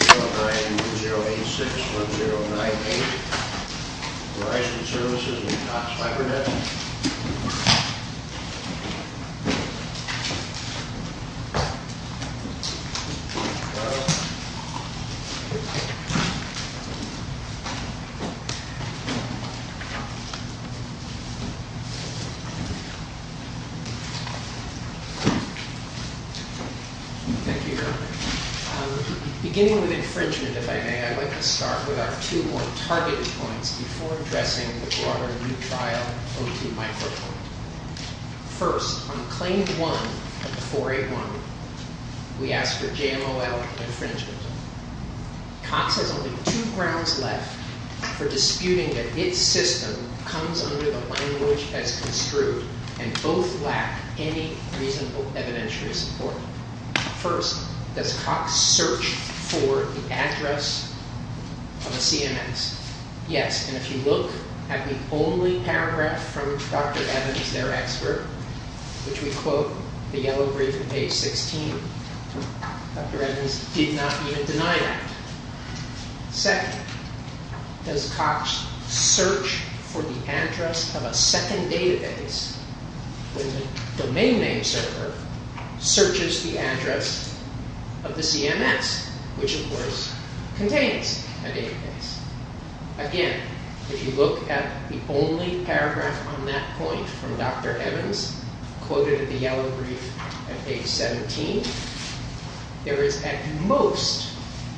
10910861098, Verizon Services and Cox Cybernetics. Beginning with infringement, if I may, I'd like to start with our two more targeted points before addressing the broader new trial OT microphone. First, on Claim 1 of 481, we asked for JMOL infringement. Cox has only two grounds left for disputing that its system comes under the language as construed, and both lack any reasonable evidentiary support. First, does Cox search for the address of a CMS? Yes, and if you look at the only paragraph from Dr. Evans, their expert, which we quote, the yellow brief at page 16, Dr. Evans did not even deny that. Second, does Cox search for the address of a second database when the domain name server searches the address of the CMS, which of course contains a database? Again, if you look at the only paragraph on that point from Dr. Evans, quoted at the yellow brief at page 17, there is at most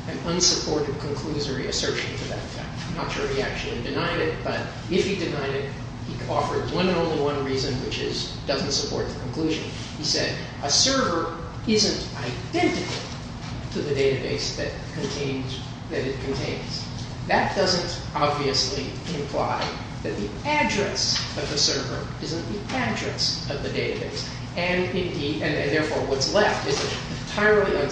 an unsupported conclusory assertion to that fact. I'm not sure if he actually denied it, but if he denied it, he offered one and only one reason, which is it doesn't support the conclusion. He said, a server isn't identical to the database that it contains. That doesn't obviously imply that the address of the server isn't the address of the database. And therefore, what's left is an entirely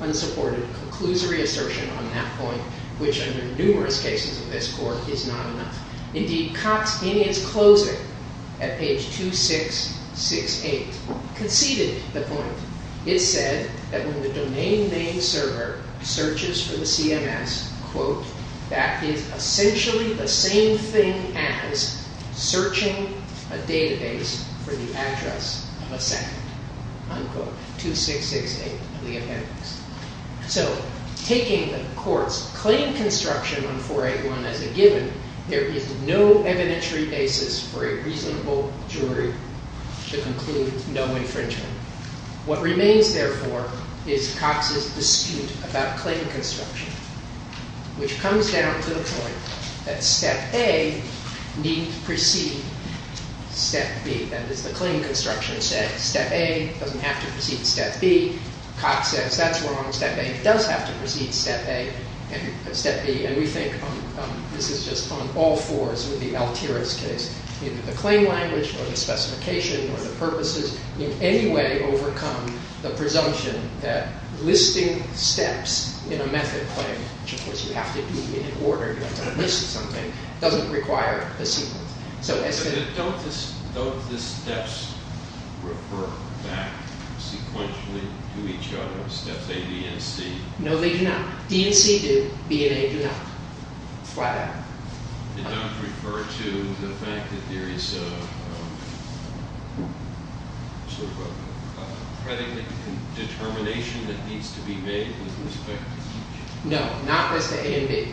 unsupported conclusory assertion on that point, which under numerous cases of this court is not enough. Indeed, Cox, in his closing at page 2668, conceded the point. It said that when the domain name server searches for the CMS, quote, that is essentially the same thing as searching a database for the address of a second, unquote, 2668 of the appendix. So taking the court's claim construction on 481 as a given, there is no evidentiary basis for a reasonable jury to conclude no infringement. What remains, therefore, is Cox's dispute about claim construction, which comes down to the point that step A need precede step B. And as the claim construction said, step A doesn't have to precede step B. Cox says, that's wrong. Step A does have to precede step B. And we think this is just on all fours with the Altiras case. Either the claim language or the specification or the purposes in any way overcome the presumption that listing steps in a method claim, which of course you have to be in order, you have to list something, doesn't require a sequence. So don't the steps refer back sequentially to each other, steps A, B, and C? No, they do not. D and C do. B and A do not. Did not refer to the fact that there is a predicate and determination that needs to be made with respect to each? No, not as to A and B.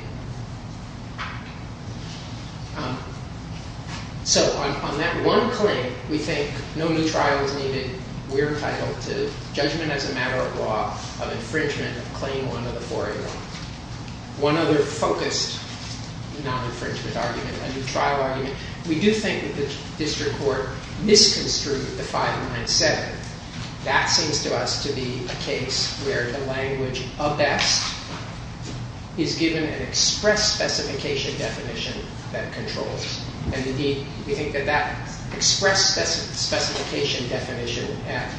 So on that one claim, we think no new trial is needed. We're entitled to judgment as a matter of law of infringement of claim one of the 4A law. One other focused non-infringement argument, a new trial argument, we do think that the district court misconstrued the 597. That seems to us to be a case where the language of best is given an express specification definition that controls. Indeed, we think that that express specification definition at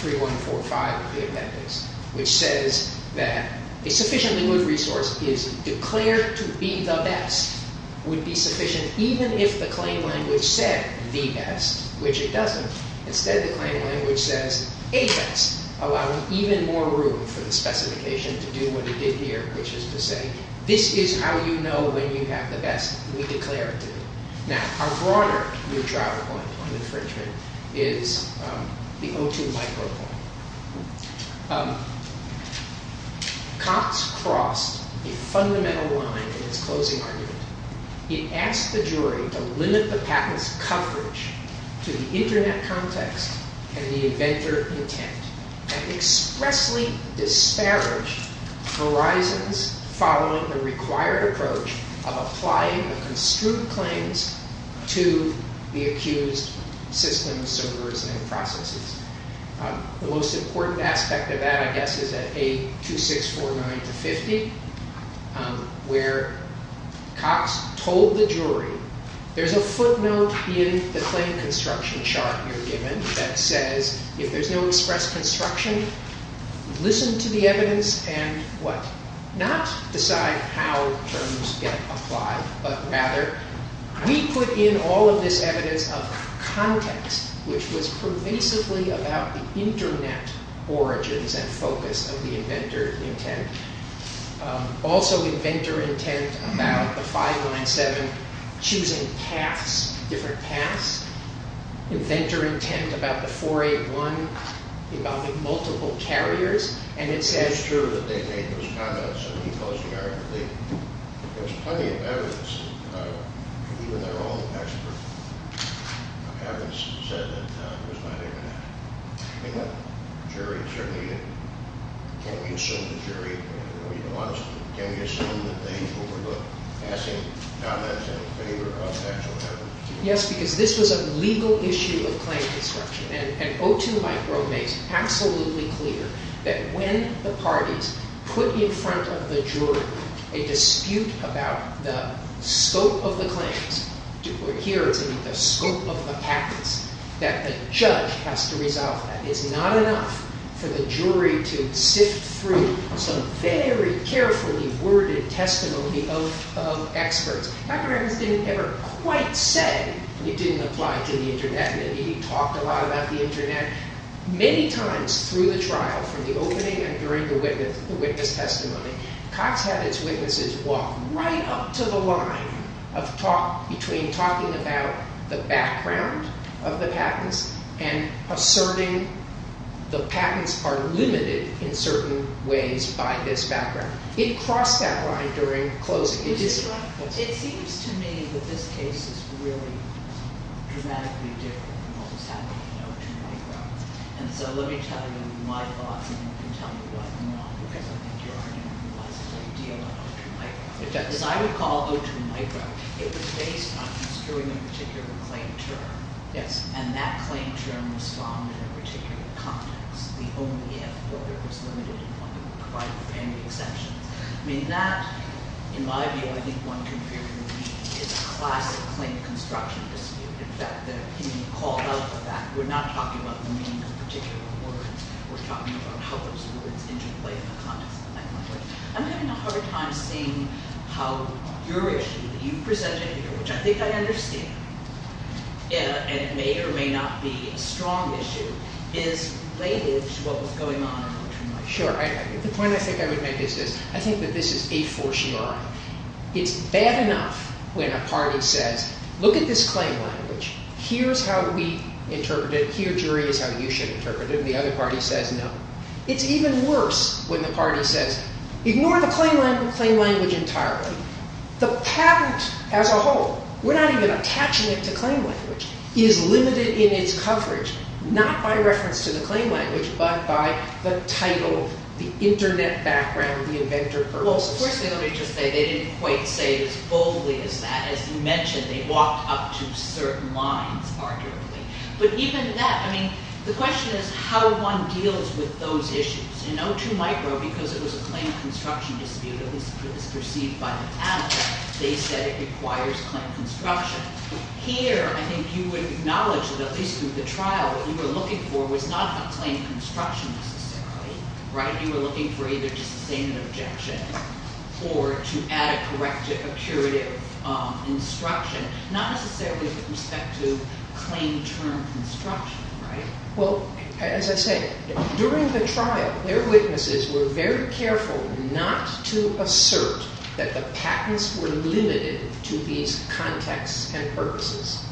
3145 of the appendix, which says that a sufficiently good resource is declared to be the best, would be sufficient even if the claim language said the best, which it doesn't. Instead, the claim language says a best, allowing even more room for the specification to do what it did here, which is to say this is how you know when you have the best. We declare it to be. Our broader new trial point on infringement is the O2 micropoint. Cox crossed a fundamental line in his closing argument. He asked the jury to limit the patent's coverage to the internet context and the inventor intent and expressly disparage horizons following the required approach of applying the construed claims to the accused systems, servers, and processes. The most important aspect of that, I guess, is that A2649-50, where Cox told the jury, there's a footnote in the claim construction chart you're given that says if there's no express construction, listen to the evidence and what? Not decide how terms get applied, but rather we put in all of this evidence of context, which was pervasively about the internet origins and focus of the inventor intent. Also, inventor intent about the 597 choosing paths, different paths. Inventor intent about the 481 involving multiple carriers. It's true that they made those comments in the closing argument. There's plenty of evidence, even their own expert evidence said that it was not internet. Can we assume the jury, can we assume that they overlooked passing comments in favor of actual evidence? Yes, because this was a legal issue of claim construction. And O2 micro makes absolutely clear that when the parties put in front of the jury a dispute about the scope of the claims, or here the scope of the patents, that the judge has to resolve that. It's not enough for the jury to sift through some very carefully worded testimony of experts. Dr. Evans didn't ever quite say it didn't apply to the internet. Maybe he talked a lot about the internet. Many times through the trial, from the opening and during the witness testimony, Cox had his witnesses walk right up to the line between talking about the background of the patents and asserting the patents are limited in certain ways by this background. It crossed that line during closing. It seems to me that this case is really dramatically different than what was happening in O2 micro. And so let me tell you my thoughts and then I can tell you why not, because I think you are going to realize a great deal about O2 micro. As I would call O2 micro, it was based on construing a particular claim term. And that claim term was found in a particular context. The only if order was limited in one that would provide for any exceptions. I mean that, in my view, I think one can figure is a classic claim construction dispute. In fact, that can be called out for that. We're not talking about the meaning of particular words. We're talking about how those words interplay in the context of O2 micro. I'm having a hard time seeing how your issue, that you presented here, which I think I understand, and it may or may not be a strong issue, is related to what was going on in O2 micro. Sure. The point I think I would make is this. I think that this is a fortiori. It's bad enough when a party says, look at this claim language. Here's how we interpret it. Here, jury, is how you should interpret it. And the other party says no. It's even worse when the party says, ignore the claim language entirely. The patent as a whole, we're not even attaching it to claim language, is limited in its coverage, not by reference to the claim language, but by the title, the internet background, the inventor versus. Well, of course, let me just say, they didn't quite say it as boldly as that. As you mentioned, they walked up to certain lines, arguably. But even that, I mean, the question is how one deals with those issues. In O2 micro, because it was a claim construction dispute, at least it was perceived by the panel, they said it requires claim construction. Here, I think you would acknowledge that, at least through the trial, what you were looking for was not a claim construction, necessarily. You were looking for either just a statement of objection or to add a corrective, a curative instruction. Not necessarily with respect to claim term construction. Well, as I say, during the trial, their witnesses were very careful not to assert that the patents were limited to these contexts and purposes.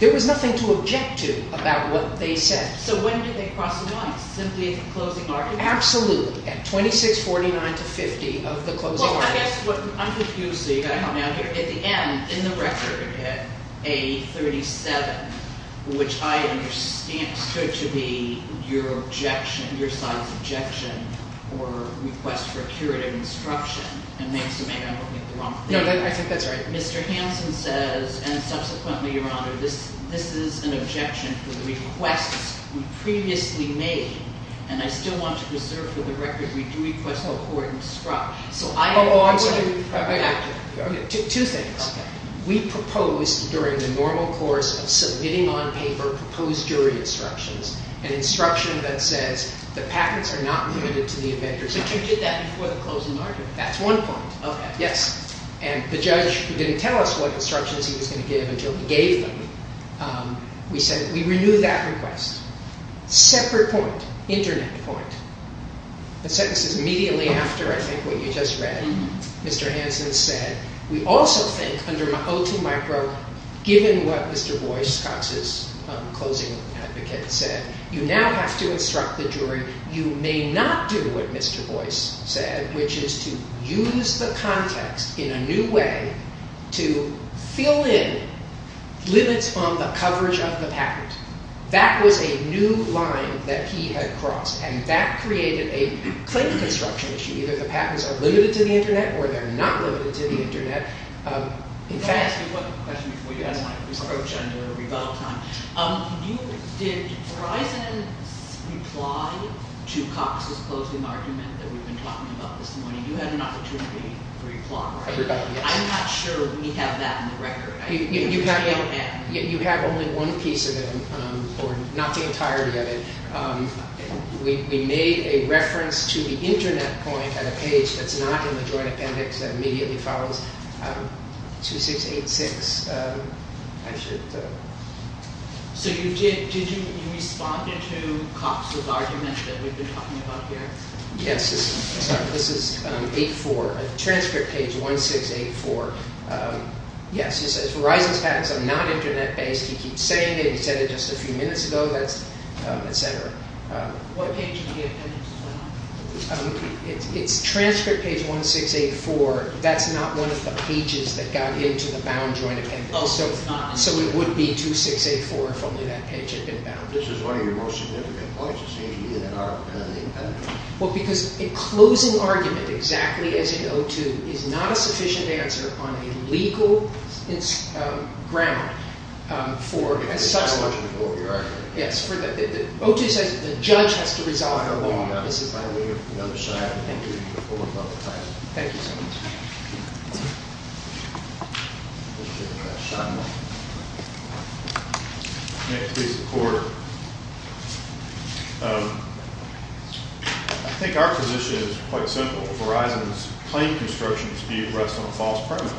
There was nothing to object to about what they said. So when did they cross the line? Simply at the closing argument? Absolutely. At 2649 to 50 of the closing arguments. Well, I'm confused, so you've got to help me out here. At the end, in the record, at A37, which I understand stood to be your objection, your side's objection or request for a curative instruction, and maybe I'm looking at the wrong thing. No, I think that's right. Mr. Hanson says, and subsequently, Your Honor, this is an objection to the requests we previously made, and I still want to reserve for the record, we do request no court instruction. So I agree with that. Two things. We proposed, during the normal course of submitting on paper, proposed jury instructions, an instruction that says the patents are not limited to the avengers. But you did that before the closing argument. That's one point. Yes. And the judge, who didn't tell us what instructions he was going to give until he gave them, we said we renew that request. Separate point. Internet point. The sentence is immediately after, I think, what you just read. Mr. Hanson said, we also think, under O2 micro, given what Mr. Boyce, Cox's closing advocate, said, you now have to instruct the jury. You may not do what Mr. Boyce said, which is to use the context in a new way to fill in limits on the coverage of the patent. That was a new line that he had crossed, and that created a claim construction issue. Either the patents are limited to the Internet, or they're not limited to the Internet. In fact... Can I ask you one question before you ask my approach on your rebuttal time? Did Verizon reply to Cox's closing argument that we've been talking about this morning? You had an opportunity to reply, right? I'm not sure we have that on the record. You have only one piece of it, or not the entirety of it. We made a reference to the Internet point on a page that's not in the joint appendix that immediately follows 2686. I should... So you did, did you respond to Cox's argument that we've been talking about here? This is 8-4. Transcript page 1684. Yes, it says Verizon's patents are not Internet-based. He keeps saying it. He said it just a few minutes ago. What page of the appendix is that on? It's transcript page 1684. That's not one of the pages that got into the bound joint appendix. So it would be 2684 if only that page had been bound. This is one of your most significant points. Well, because a closing argument exactly as in O2 is not a sufficient answer on a legal grammar for... It's psychological for you, right? Yes. O2 says the judge has to resolve the law. This is by way of another side. Thank you. Thank you so much. Next is the court. I think our position is quite simple. Verizon's claimed construction is being pressed on false premise.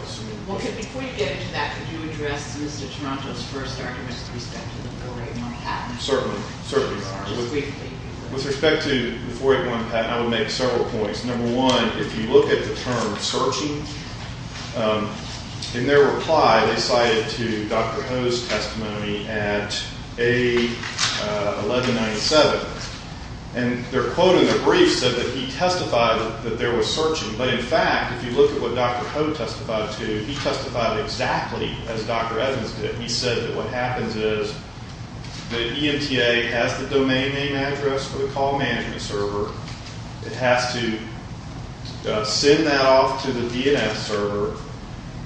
Before you get into that, could you address Mr. Toronto's first argument with respect to the 481 patent? Certainly. Certainly. With respect to the 481 patent, I would make several points. Number one, if you look at the term searching, in their reply, they cited to Dr. Ho's testimony at A1197. And their quote in the brief said that he testified that there was searching. But in fact, if you look at what Dr. Ho testified to, he testified exactly as Dr. Evans did. He said that what happens is the EMTA has the domain name address for the call management server. It has to send that off to the DNF server.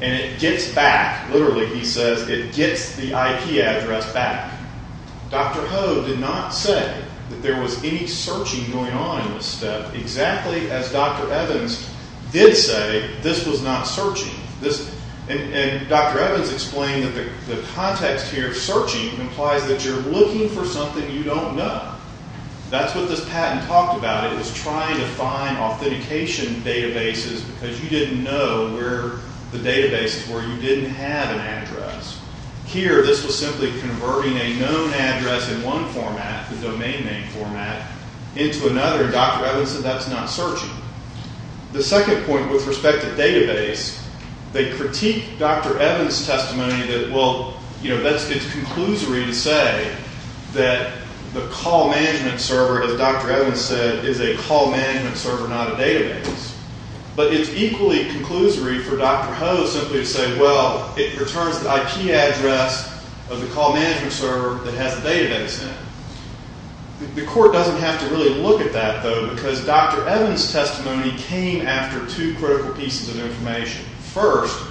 And it gets back, literally he says, it gets the IP address back. Dr. Ho did not say that there was any searching going on in this step, exactly as Dr. Evans did say this was not searching. And Dr. Evans explained that the context here of searching implies that you're looking for something you don't know. That's what this patent talked about. It was trying to find authentication databases because you didn't know where the databases were. Here, this was simply converting a known address in one format, the domain name format, into another. Dr. Evans said that's not searching. The second point with respect to database, they critique Dr. Evans' testimony that well, that's the conclusory to say that the call management server, as Dr. Evans said, is a call management server, not a database. But it's equally conclusory to say that this is the address of the call management server that has the database in it. The court doesn't have to really look at that, though, because Dr. Evans' testimony came after two critical pieces of information. First,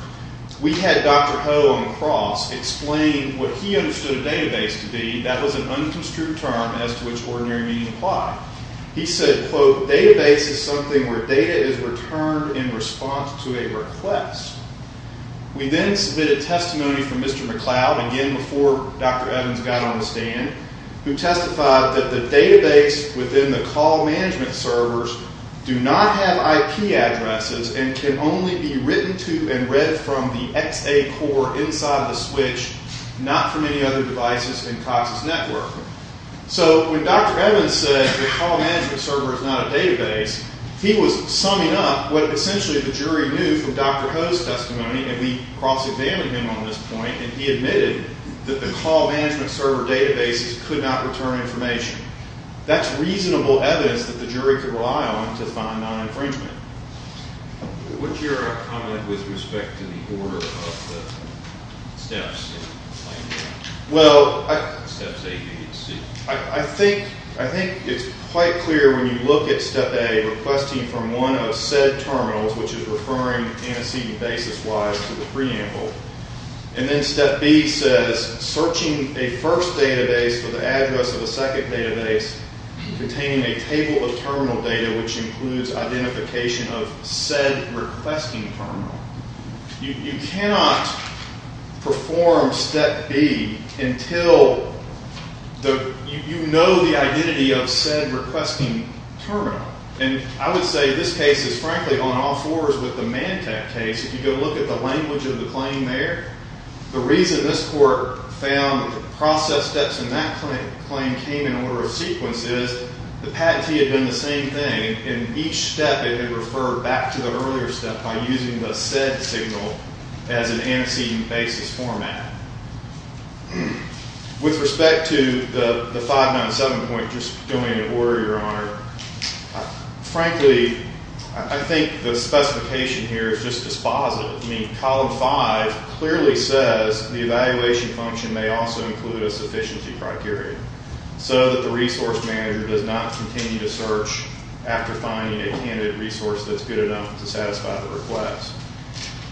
we had Dr. Ho on the cross explain what he understood a database to be. That was an unconstrued term as to which ordinary meaning applied. He said, quote, a database is something where data is returned in response to a request. We then submitted testimony from Mr. McLeod, again before Dr. Evans got on the stand, who testified that the database within the call management servers do not have IP addresses and can only be written to and read from the XA core inside of the switch, not from any other devices in Cox's network. So when Dr. Evans said the database, he was summing up what essentially the jury knew from Dr. Ho's testimony, and we cross-examined him on this point, and he admitted that the call management server databases could not return information. That's reasonable evidence that the jury could rely on to find non-infringement. What's your comment with respect to the order of the steps? Step A, requesting from one of said terminals, which is referring antecedent basis-wise to the preamble, and then Step B says searching a first database for the address of a second database containing a table of terminal data which includes identification of said requesting terminal. You cannot perform Step B until you know the identity of said requesting terminal. And I would say this case is frankly on all fours with the Mantec case. If you go look at the language of the claim there, the reason this court found process steps in that claim came in order of sequence is the patentee had done the same thing, and each step it had referred back to the earlier step by using the said signal as an antecedent basis format. Frankly, I think the specification here is just dispositive. I mean, Column 5 clearly says the evaluation function may also include a sufficiency criteria so that the resource manager does not continue to search after finding a candidate resource that's good enough to satisfy the request.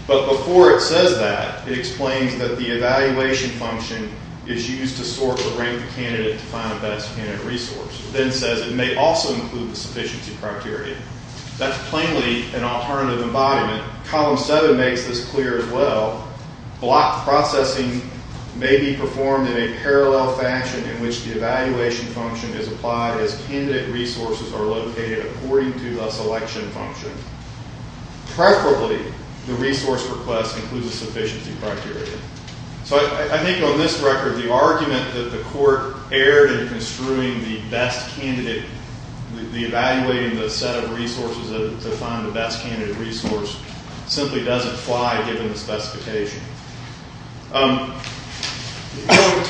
But before it says that, it explains that the evaluation function is used to sort the selection criteria. That's plainly an alternative embodiment. Column 7 makes this clear as well. Block processing may be performed in a parallel fashion in which the evaluation function is applied as candidate resources are located according to the selection function. Preferably, the resource request includes a sufficiency criteria. So I think on this record the argument that the court erred in construing the best candidate, a set of resources to find the best candidate resource simply doesn't fly given the specification.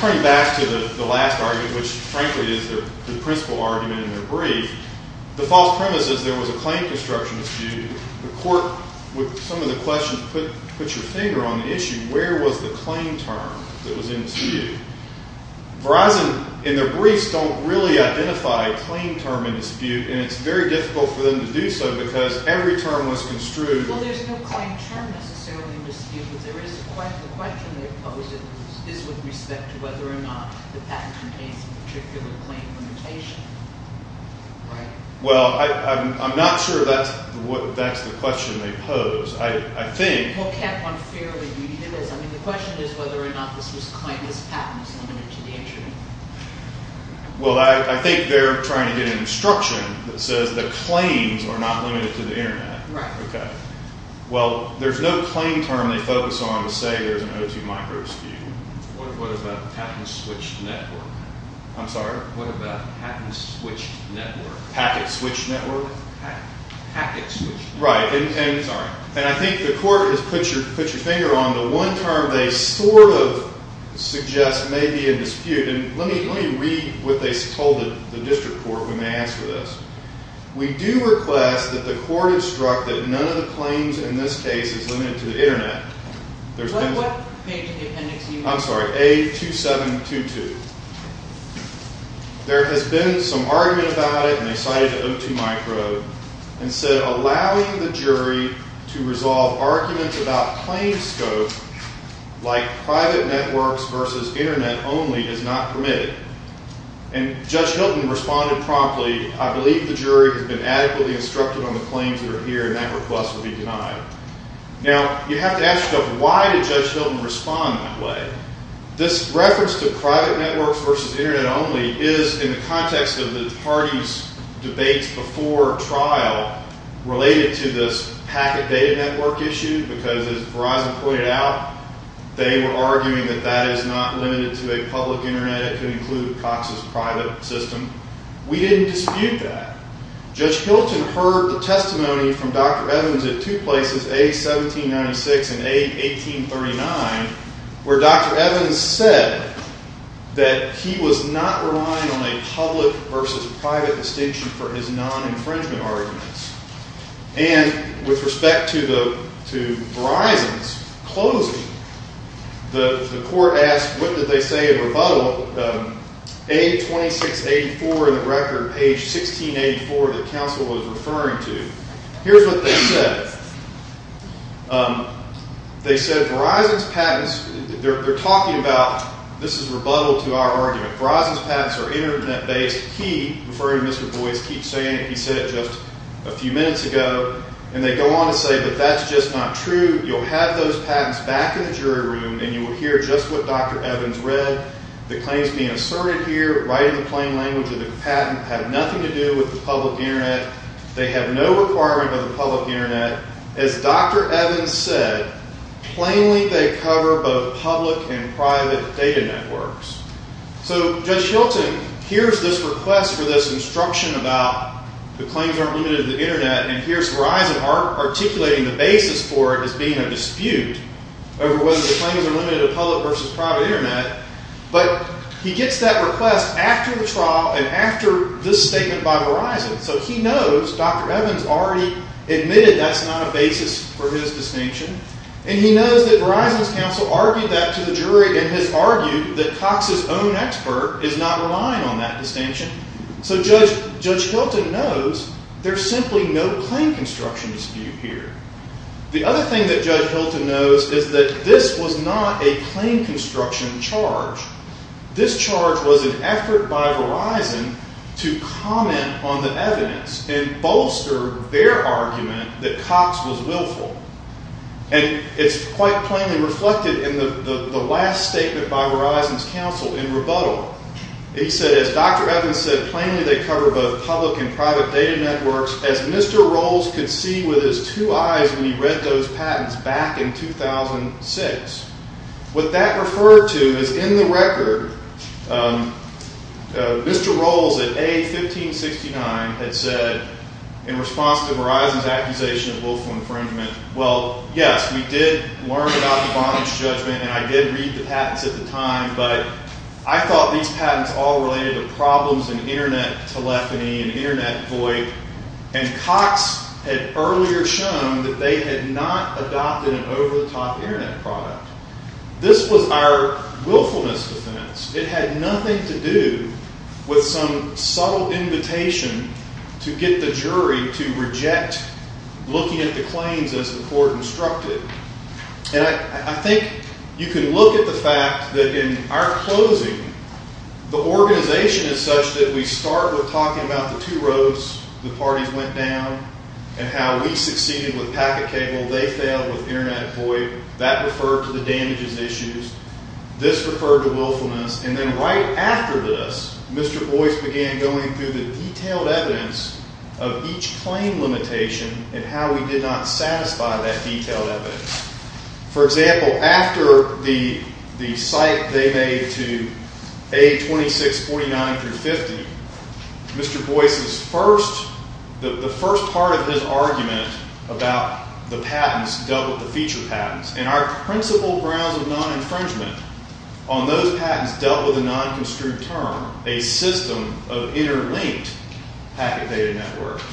Turning back to the last argument, which frankly is the principal argument in the brief, the false premise is there was a claim construction dispute. The court, with some of the questions, put your finger on the issue. Where was the claim term that was in dispute? Verizon in their briefs don't really identify a reason for them to do so because every term was construed. Well, there's no claim term necessarily in dispute, but the question they pose is with respect to whether or not the patent contains a particular claim limitation. Well, I'm not sure that's the question they pose. I think... Well, can't one fairly do either? The question is whether or not this patent claims are not limited to the Internet. Well, there's no claim term they focus on to say there's an O2 micro dispute. What about patent switched network? I'm sorry? What about patent switched network? Packet switched network? Packet switched network. Right. And I think the court has put your finger on the one term they sort of suggest may be in dispute. And let me read what they told the district court when they asked for this. We do request that the court instruct that none of the claims in this case is limited to the Internet. What page in the appendix do you use? I'm sorry, A2722. There has been some argument about it, and they cited the O2 micro, and said allowing the jury to resolve arguments about claim scope is not permitted. And Judge Hilton responded promptly, I believe the jury has been adequately instructed on the claims that are here, and that request will be denied. Now, you have to ask yourself, why did Judge Hilton respond that way? This reference to private networks versus Internet only is in the context of the party's debates before trial related to this packet data network issue, because as Verizon pointed out, they were arguing that the Internet could include Cox's private system. We didn't dispute that. Judge Hilton heard the testimony from Dr. Evans at two places, A1796 and A1839, where Dr. Evans said that he was not relying on a public versus private distinction for his non-infringement arguments. And with respect to Verizon's closing, the court asked, what did they say in rebuttal to A2684 in the record, page 1684, that counsel was referring to? Here's what they said. They said Verizon's patents, they're talking about, this is rebuttal to our argument, Verizon's patents are Internet-based. He, referring to Mr. Boyce, keeps saying it, he said it just a few minutes ago, and they go on to say that that's just not true. You'll have those patents being asserted here, right in the plain language of the patent, have nothing to do with the public Internet. They have no requirement of the public Internet. As Dr. Evans said, plainly they cover both public and private data networks. So Judge Hilton hears this request for this instruction about the claims aren't limited to the Internet, and hears Verizon articulating and gets that request after the trial and after this statement by Verizon. So he knows Dr. Evans already admitted that's not a basis for his distinction, and he knows that Verizon's counsel argued that to the jury and has argued that Cox's own expert is not relying on that distinction. So Judge Hilton knows there's simply no claim construction dispute here. The other thing that Judge Hilton argues was an effort by Verizon to comment on the evidence and bolster their argument that Cox was willful. And it's quite plainly reflected in the last statement by Verizon's counsel in rebuttal. He said, as Dr. Evans said, plainly they cover both public and private data networks, as Mr. Rowles could see with his two eyes when he read those patents back in 2006. What that referred to is in the record, Mr. Rowles at A-1569 had said in response to Verizon's accusation of willful infringement, well, yes, we did learn about the bondage judgment, and I did read the patents at the time, but I thought these patents all related to problems in Internet telephony and Internet VoIP, and Cox had earlier shown that they had not adopted an over-the-top Internet product. This was our willfulness defense. It had nothing to do with some subtle invitation to get the jury to reject looking at the claims as the court instructed. And I think you can look at the fact that in our closing, the organization is such that we start with talking about the two roads the parties went down and how we succeeded with packet cable, they failed with Internet VoIP, that referred to the damages issues, this referred to willfulness, and then right after this, Mr. Boyce began going through the detailed evidence of each claim limitation and how we did not satisfy that detailed evidence. For example, after the cite they made to A-2649-50, Mr. Boyce's first, the first part of his argument about the patents dealt with the future patents, and our principal grounds of non-infringement on those patents dealt with a non-construed term, a system of interlinked packet data networks.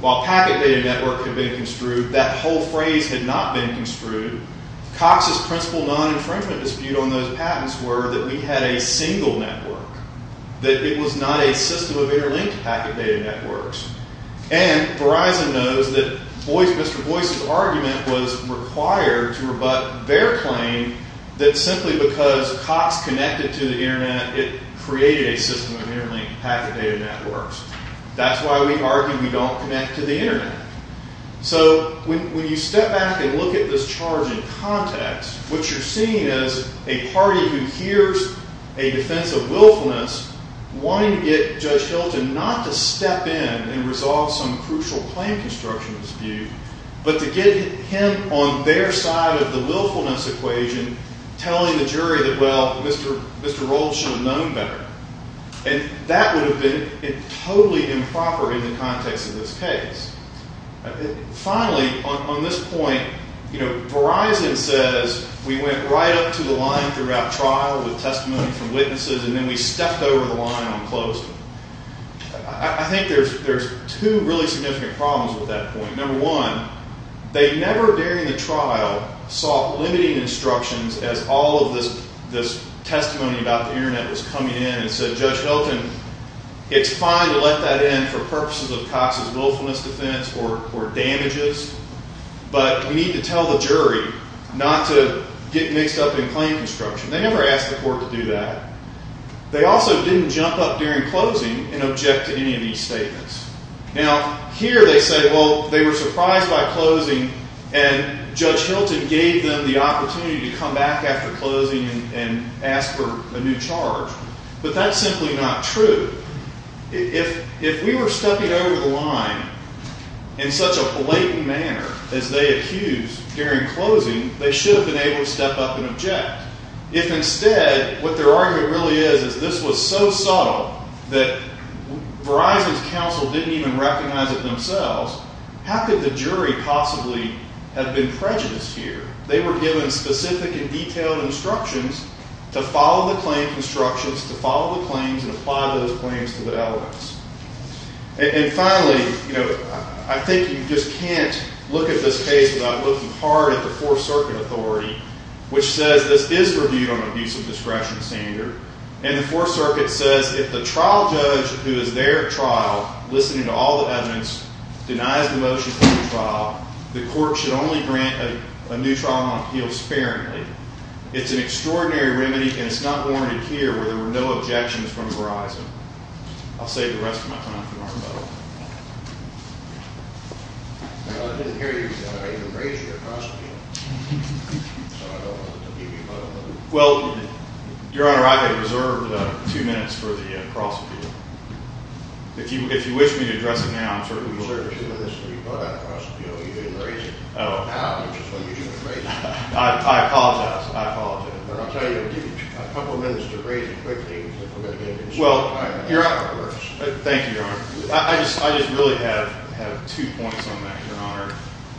While packet data networks had been construed, that whole phrase had not been construed. Cox's principal non-infringement dispute on those patents were that we had a single network, that it was not a system of interlinked packet data networks. And Verizon knows that Boyce, Mr. Boyce's argument was required to rebut their claim that simply because Cox connected to the internet, it created a system of interlinked packet data networks. That's why we argued we don't connect to the internet. So when you step back and look at this charge in context, what you're seeing is a party who hears a defense of willfulness wanting to get Judge Hilton not to step in and resolve some crucial claim construction dispute, but to get him on their side of the willfulness equation telling the jury that, well, Mr. Rowles should have known better. And that would have been totally improper in the context of this case. Finally, on this point, you know, Verizon says we went right up to the line throughout trial with testimony from witnesses, and then we stepped over the line and closed it. I think there's two really significant problems with that point. Number one, they never during the trial saw limiting instructions as all of this testimony about the internet was coming in and said, Judge Hilton, it's fine to let that in for purposes of Cox's willfulness defense or damages, but we need to tell the jury not to get mixed up in claim construction. They never asked the court to do that. They also didn't jump up during closing and object to any of these statements. Now, here they say, well, they were surprised by closing and Judge Hilton gave them the opportunity to come back after closing and ask for a new charge, but that's simply not true. If we were stepping over the line in such a blatant manner as they accused during closing, they should have been able to step up and object. If instead, what their argument really is, is this was so subtle that Verizon's counsel didn't even recognize it themselves, how could the jury possibly have been prejudiced here? They were given specific and detailed instructions to follow the claim constructions, to follow the claims, and apply those claims to the evidence. And finally, you know, I think you just can't look at this case without looking hard at the Fourth Circuit Authority, which says this is reviewed on abuse of discretion standard, and the Fourth Circuit says if the trial judge who is there at trial, listening to all the evidence, denies the motion for the trial, the court should only grant a new trial on appeal sparingly. It's an extraordinary remedy, and it's not warranted here where there were no objections from Verizon. I'll save the rest of my time for Mark Butler. I didn't hear you because I didn't raise your cross-appeal, so I don't want to give you a moment. Well, Your Honor, I have reserved two minutes for the cross-appeal. If you wish me to address it now, I'm certainly willing to. You said you didn't raise it. I apologize. I apologize. I'll tell you, I'll give you a couple of minutes to raise it quickly. Thank you, Your Honor. I just really have two points on that, Your Honor.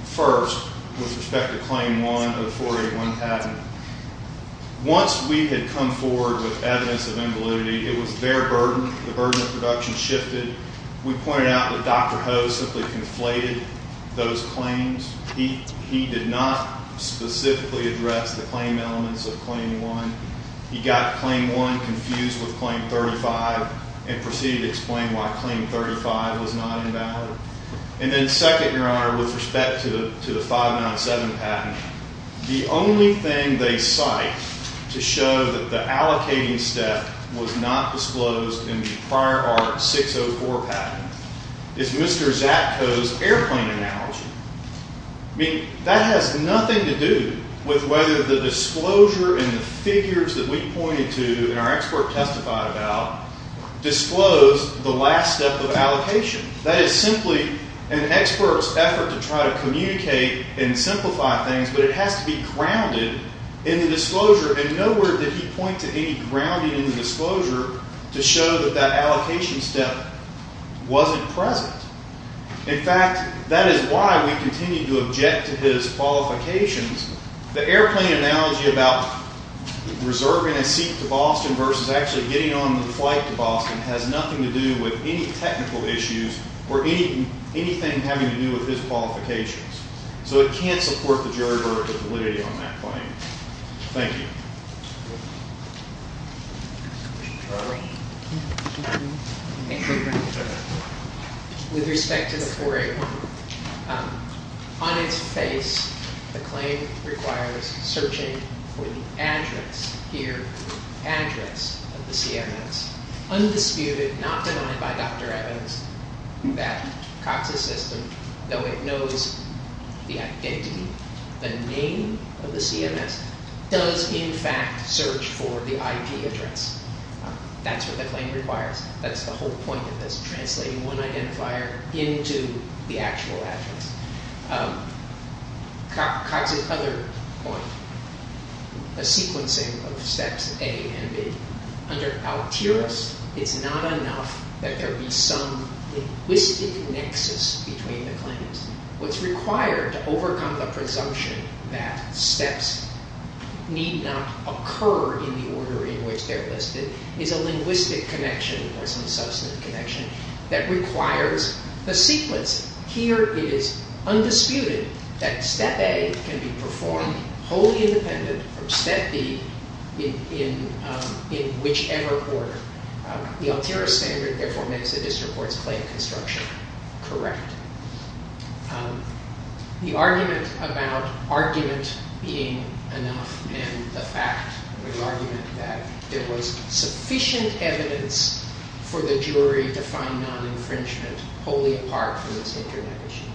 First, with respect to Claim 1 of 481 Patton, once we had come forward with evidence of invalidity, it was their burden. The burden of production shifted. We pointed out that Dr. Ho simply conflated those claims. He did not specifically address the claim elements of Claim 1. He got Claim 1 confused with Claim 35 and proceeded to explain why Claim 35 was not invalid. And then, second, Your Honor, with respect to the 597 Patton, the only thing they cite to show that the 597 Patton is invalid is Mr. Zatko's airplane analogy. I mean, that has nothing to do with whether the disclosure and the figures that we pointed to and our expert testified about disclosed the last step of allocation. That is simply an expert's effort to try to communicate and simplify things, but it has to be grounded in the disclosure, and nowhere did he point to any grounding in the disclosure to show that that allocation step wasn't present. In fact, that is why we continue to object to his qualifications. The airplane analogy about reserving a seat to Boston versus actually getting on the flight to Boston has nothing to do with any technical issues or anything having to do with his qualifications. So it can't support the claim. With respect to the 481, on its face, the claim requires searching for the address here, the address of the CMS. Undisputed, not denied by Dr. Evans, that COTSA system, though it knows the identity, the name of the CMS, does in fact search for the address of the CMS. That's what the claim requires. That's the whole point of this, translating one identifier into the actual address. COTSA's other point, the sequencing of steps A and B. Under ALTIRIS, it's not enough that there be some linguistic nexus between the claims. What's required to overcome the presumption that steps need not occur in the order in which they're listed is a linguistic connection or some substantive connection that requires the sequence. Here it is undisputed that step A can be performed wholly independent from step B in whichever order. The ALTIRIS standard therefore makes the district court's claim construction correct. The argument about argument being enough and the fact that there was sufficient evidence for the jury to find non-infringement wholly apart from this internet issue.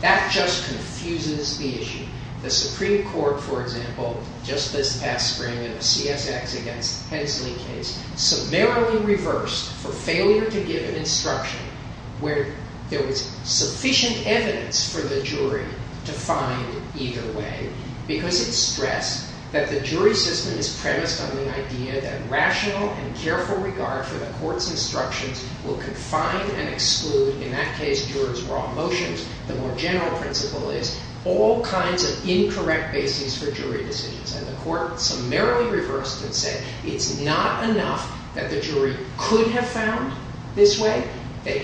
That just confuses the issue. The Supreme Court, for example, just this past spring in the CSX against Hensley case, summarily reversed for failure to give an instruction where there was sufficient evidence for the jury to find either way because it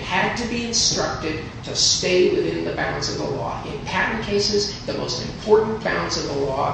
had to be instructed to stay within the bounds of the law. In patent bounds of the law. In the case of Hensley case, there was sufficient evidence for the jury to find non- infringement wholly apart from this internet issue. spring in the CSX against Hensley case, give an instruction where there was sufficient evidence for the jury to find either way because it had to be instructed to stay within the bounds of the law. It was terribly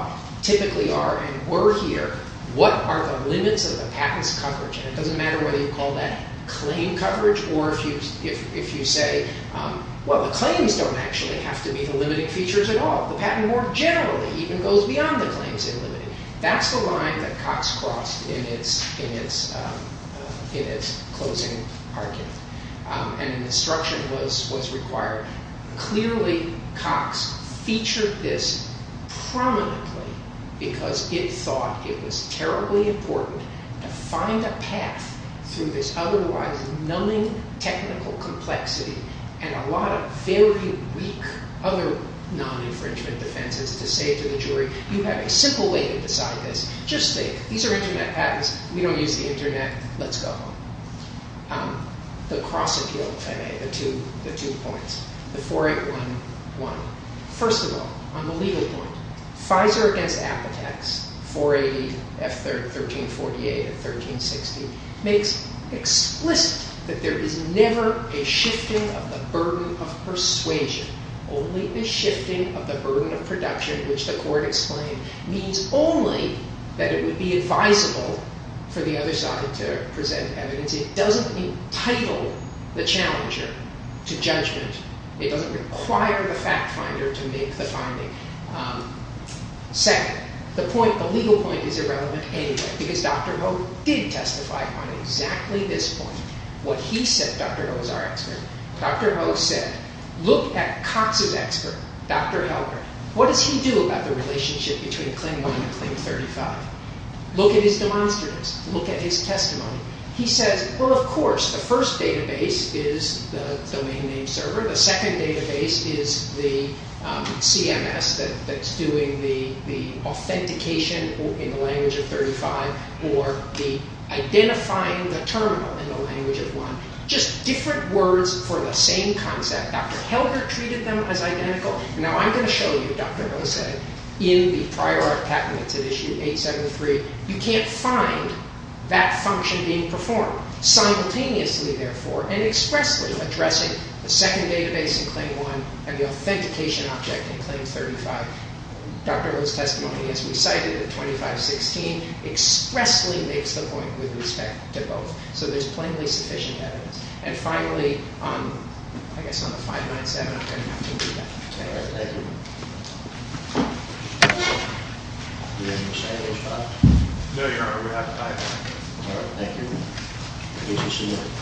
important to find a path through this otherwise numbing technical complexity and a lot of very weak other non- infringement defenses to say to the jury, you have a simple way to decide this. Just think, these are the facts of case. The court has said that there is no shift in the burden of persuasion. It doesn't entitle the challenger to judgment. It doesn't require the fact finder to make the finding. Second, the legal point is irrelevant anyway because Dr. Ho did testify on exactly this point. What he said, Dr. Ho is our expert, Dr. Ho said, look at Cox's expert, Dr. Ho, what does he do about the relationship between Claim 1 and Claim 35? Look at his testimonies, look at his testimony. He says, well, of course, the first database is the domain of 1. Dr. Ho treated them as identical. You can't find that function being performed simultaneously therefore and expressly addressing the second database in Claim 1 and the authentication object in Claim 35. Dr. Ho's testimony, as we cited, in 2516, expressly makes the point with respect to both. So there's plainly sufficient evidence. And finally, I guess on the 597, I'm going to have to leave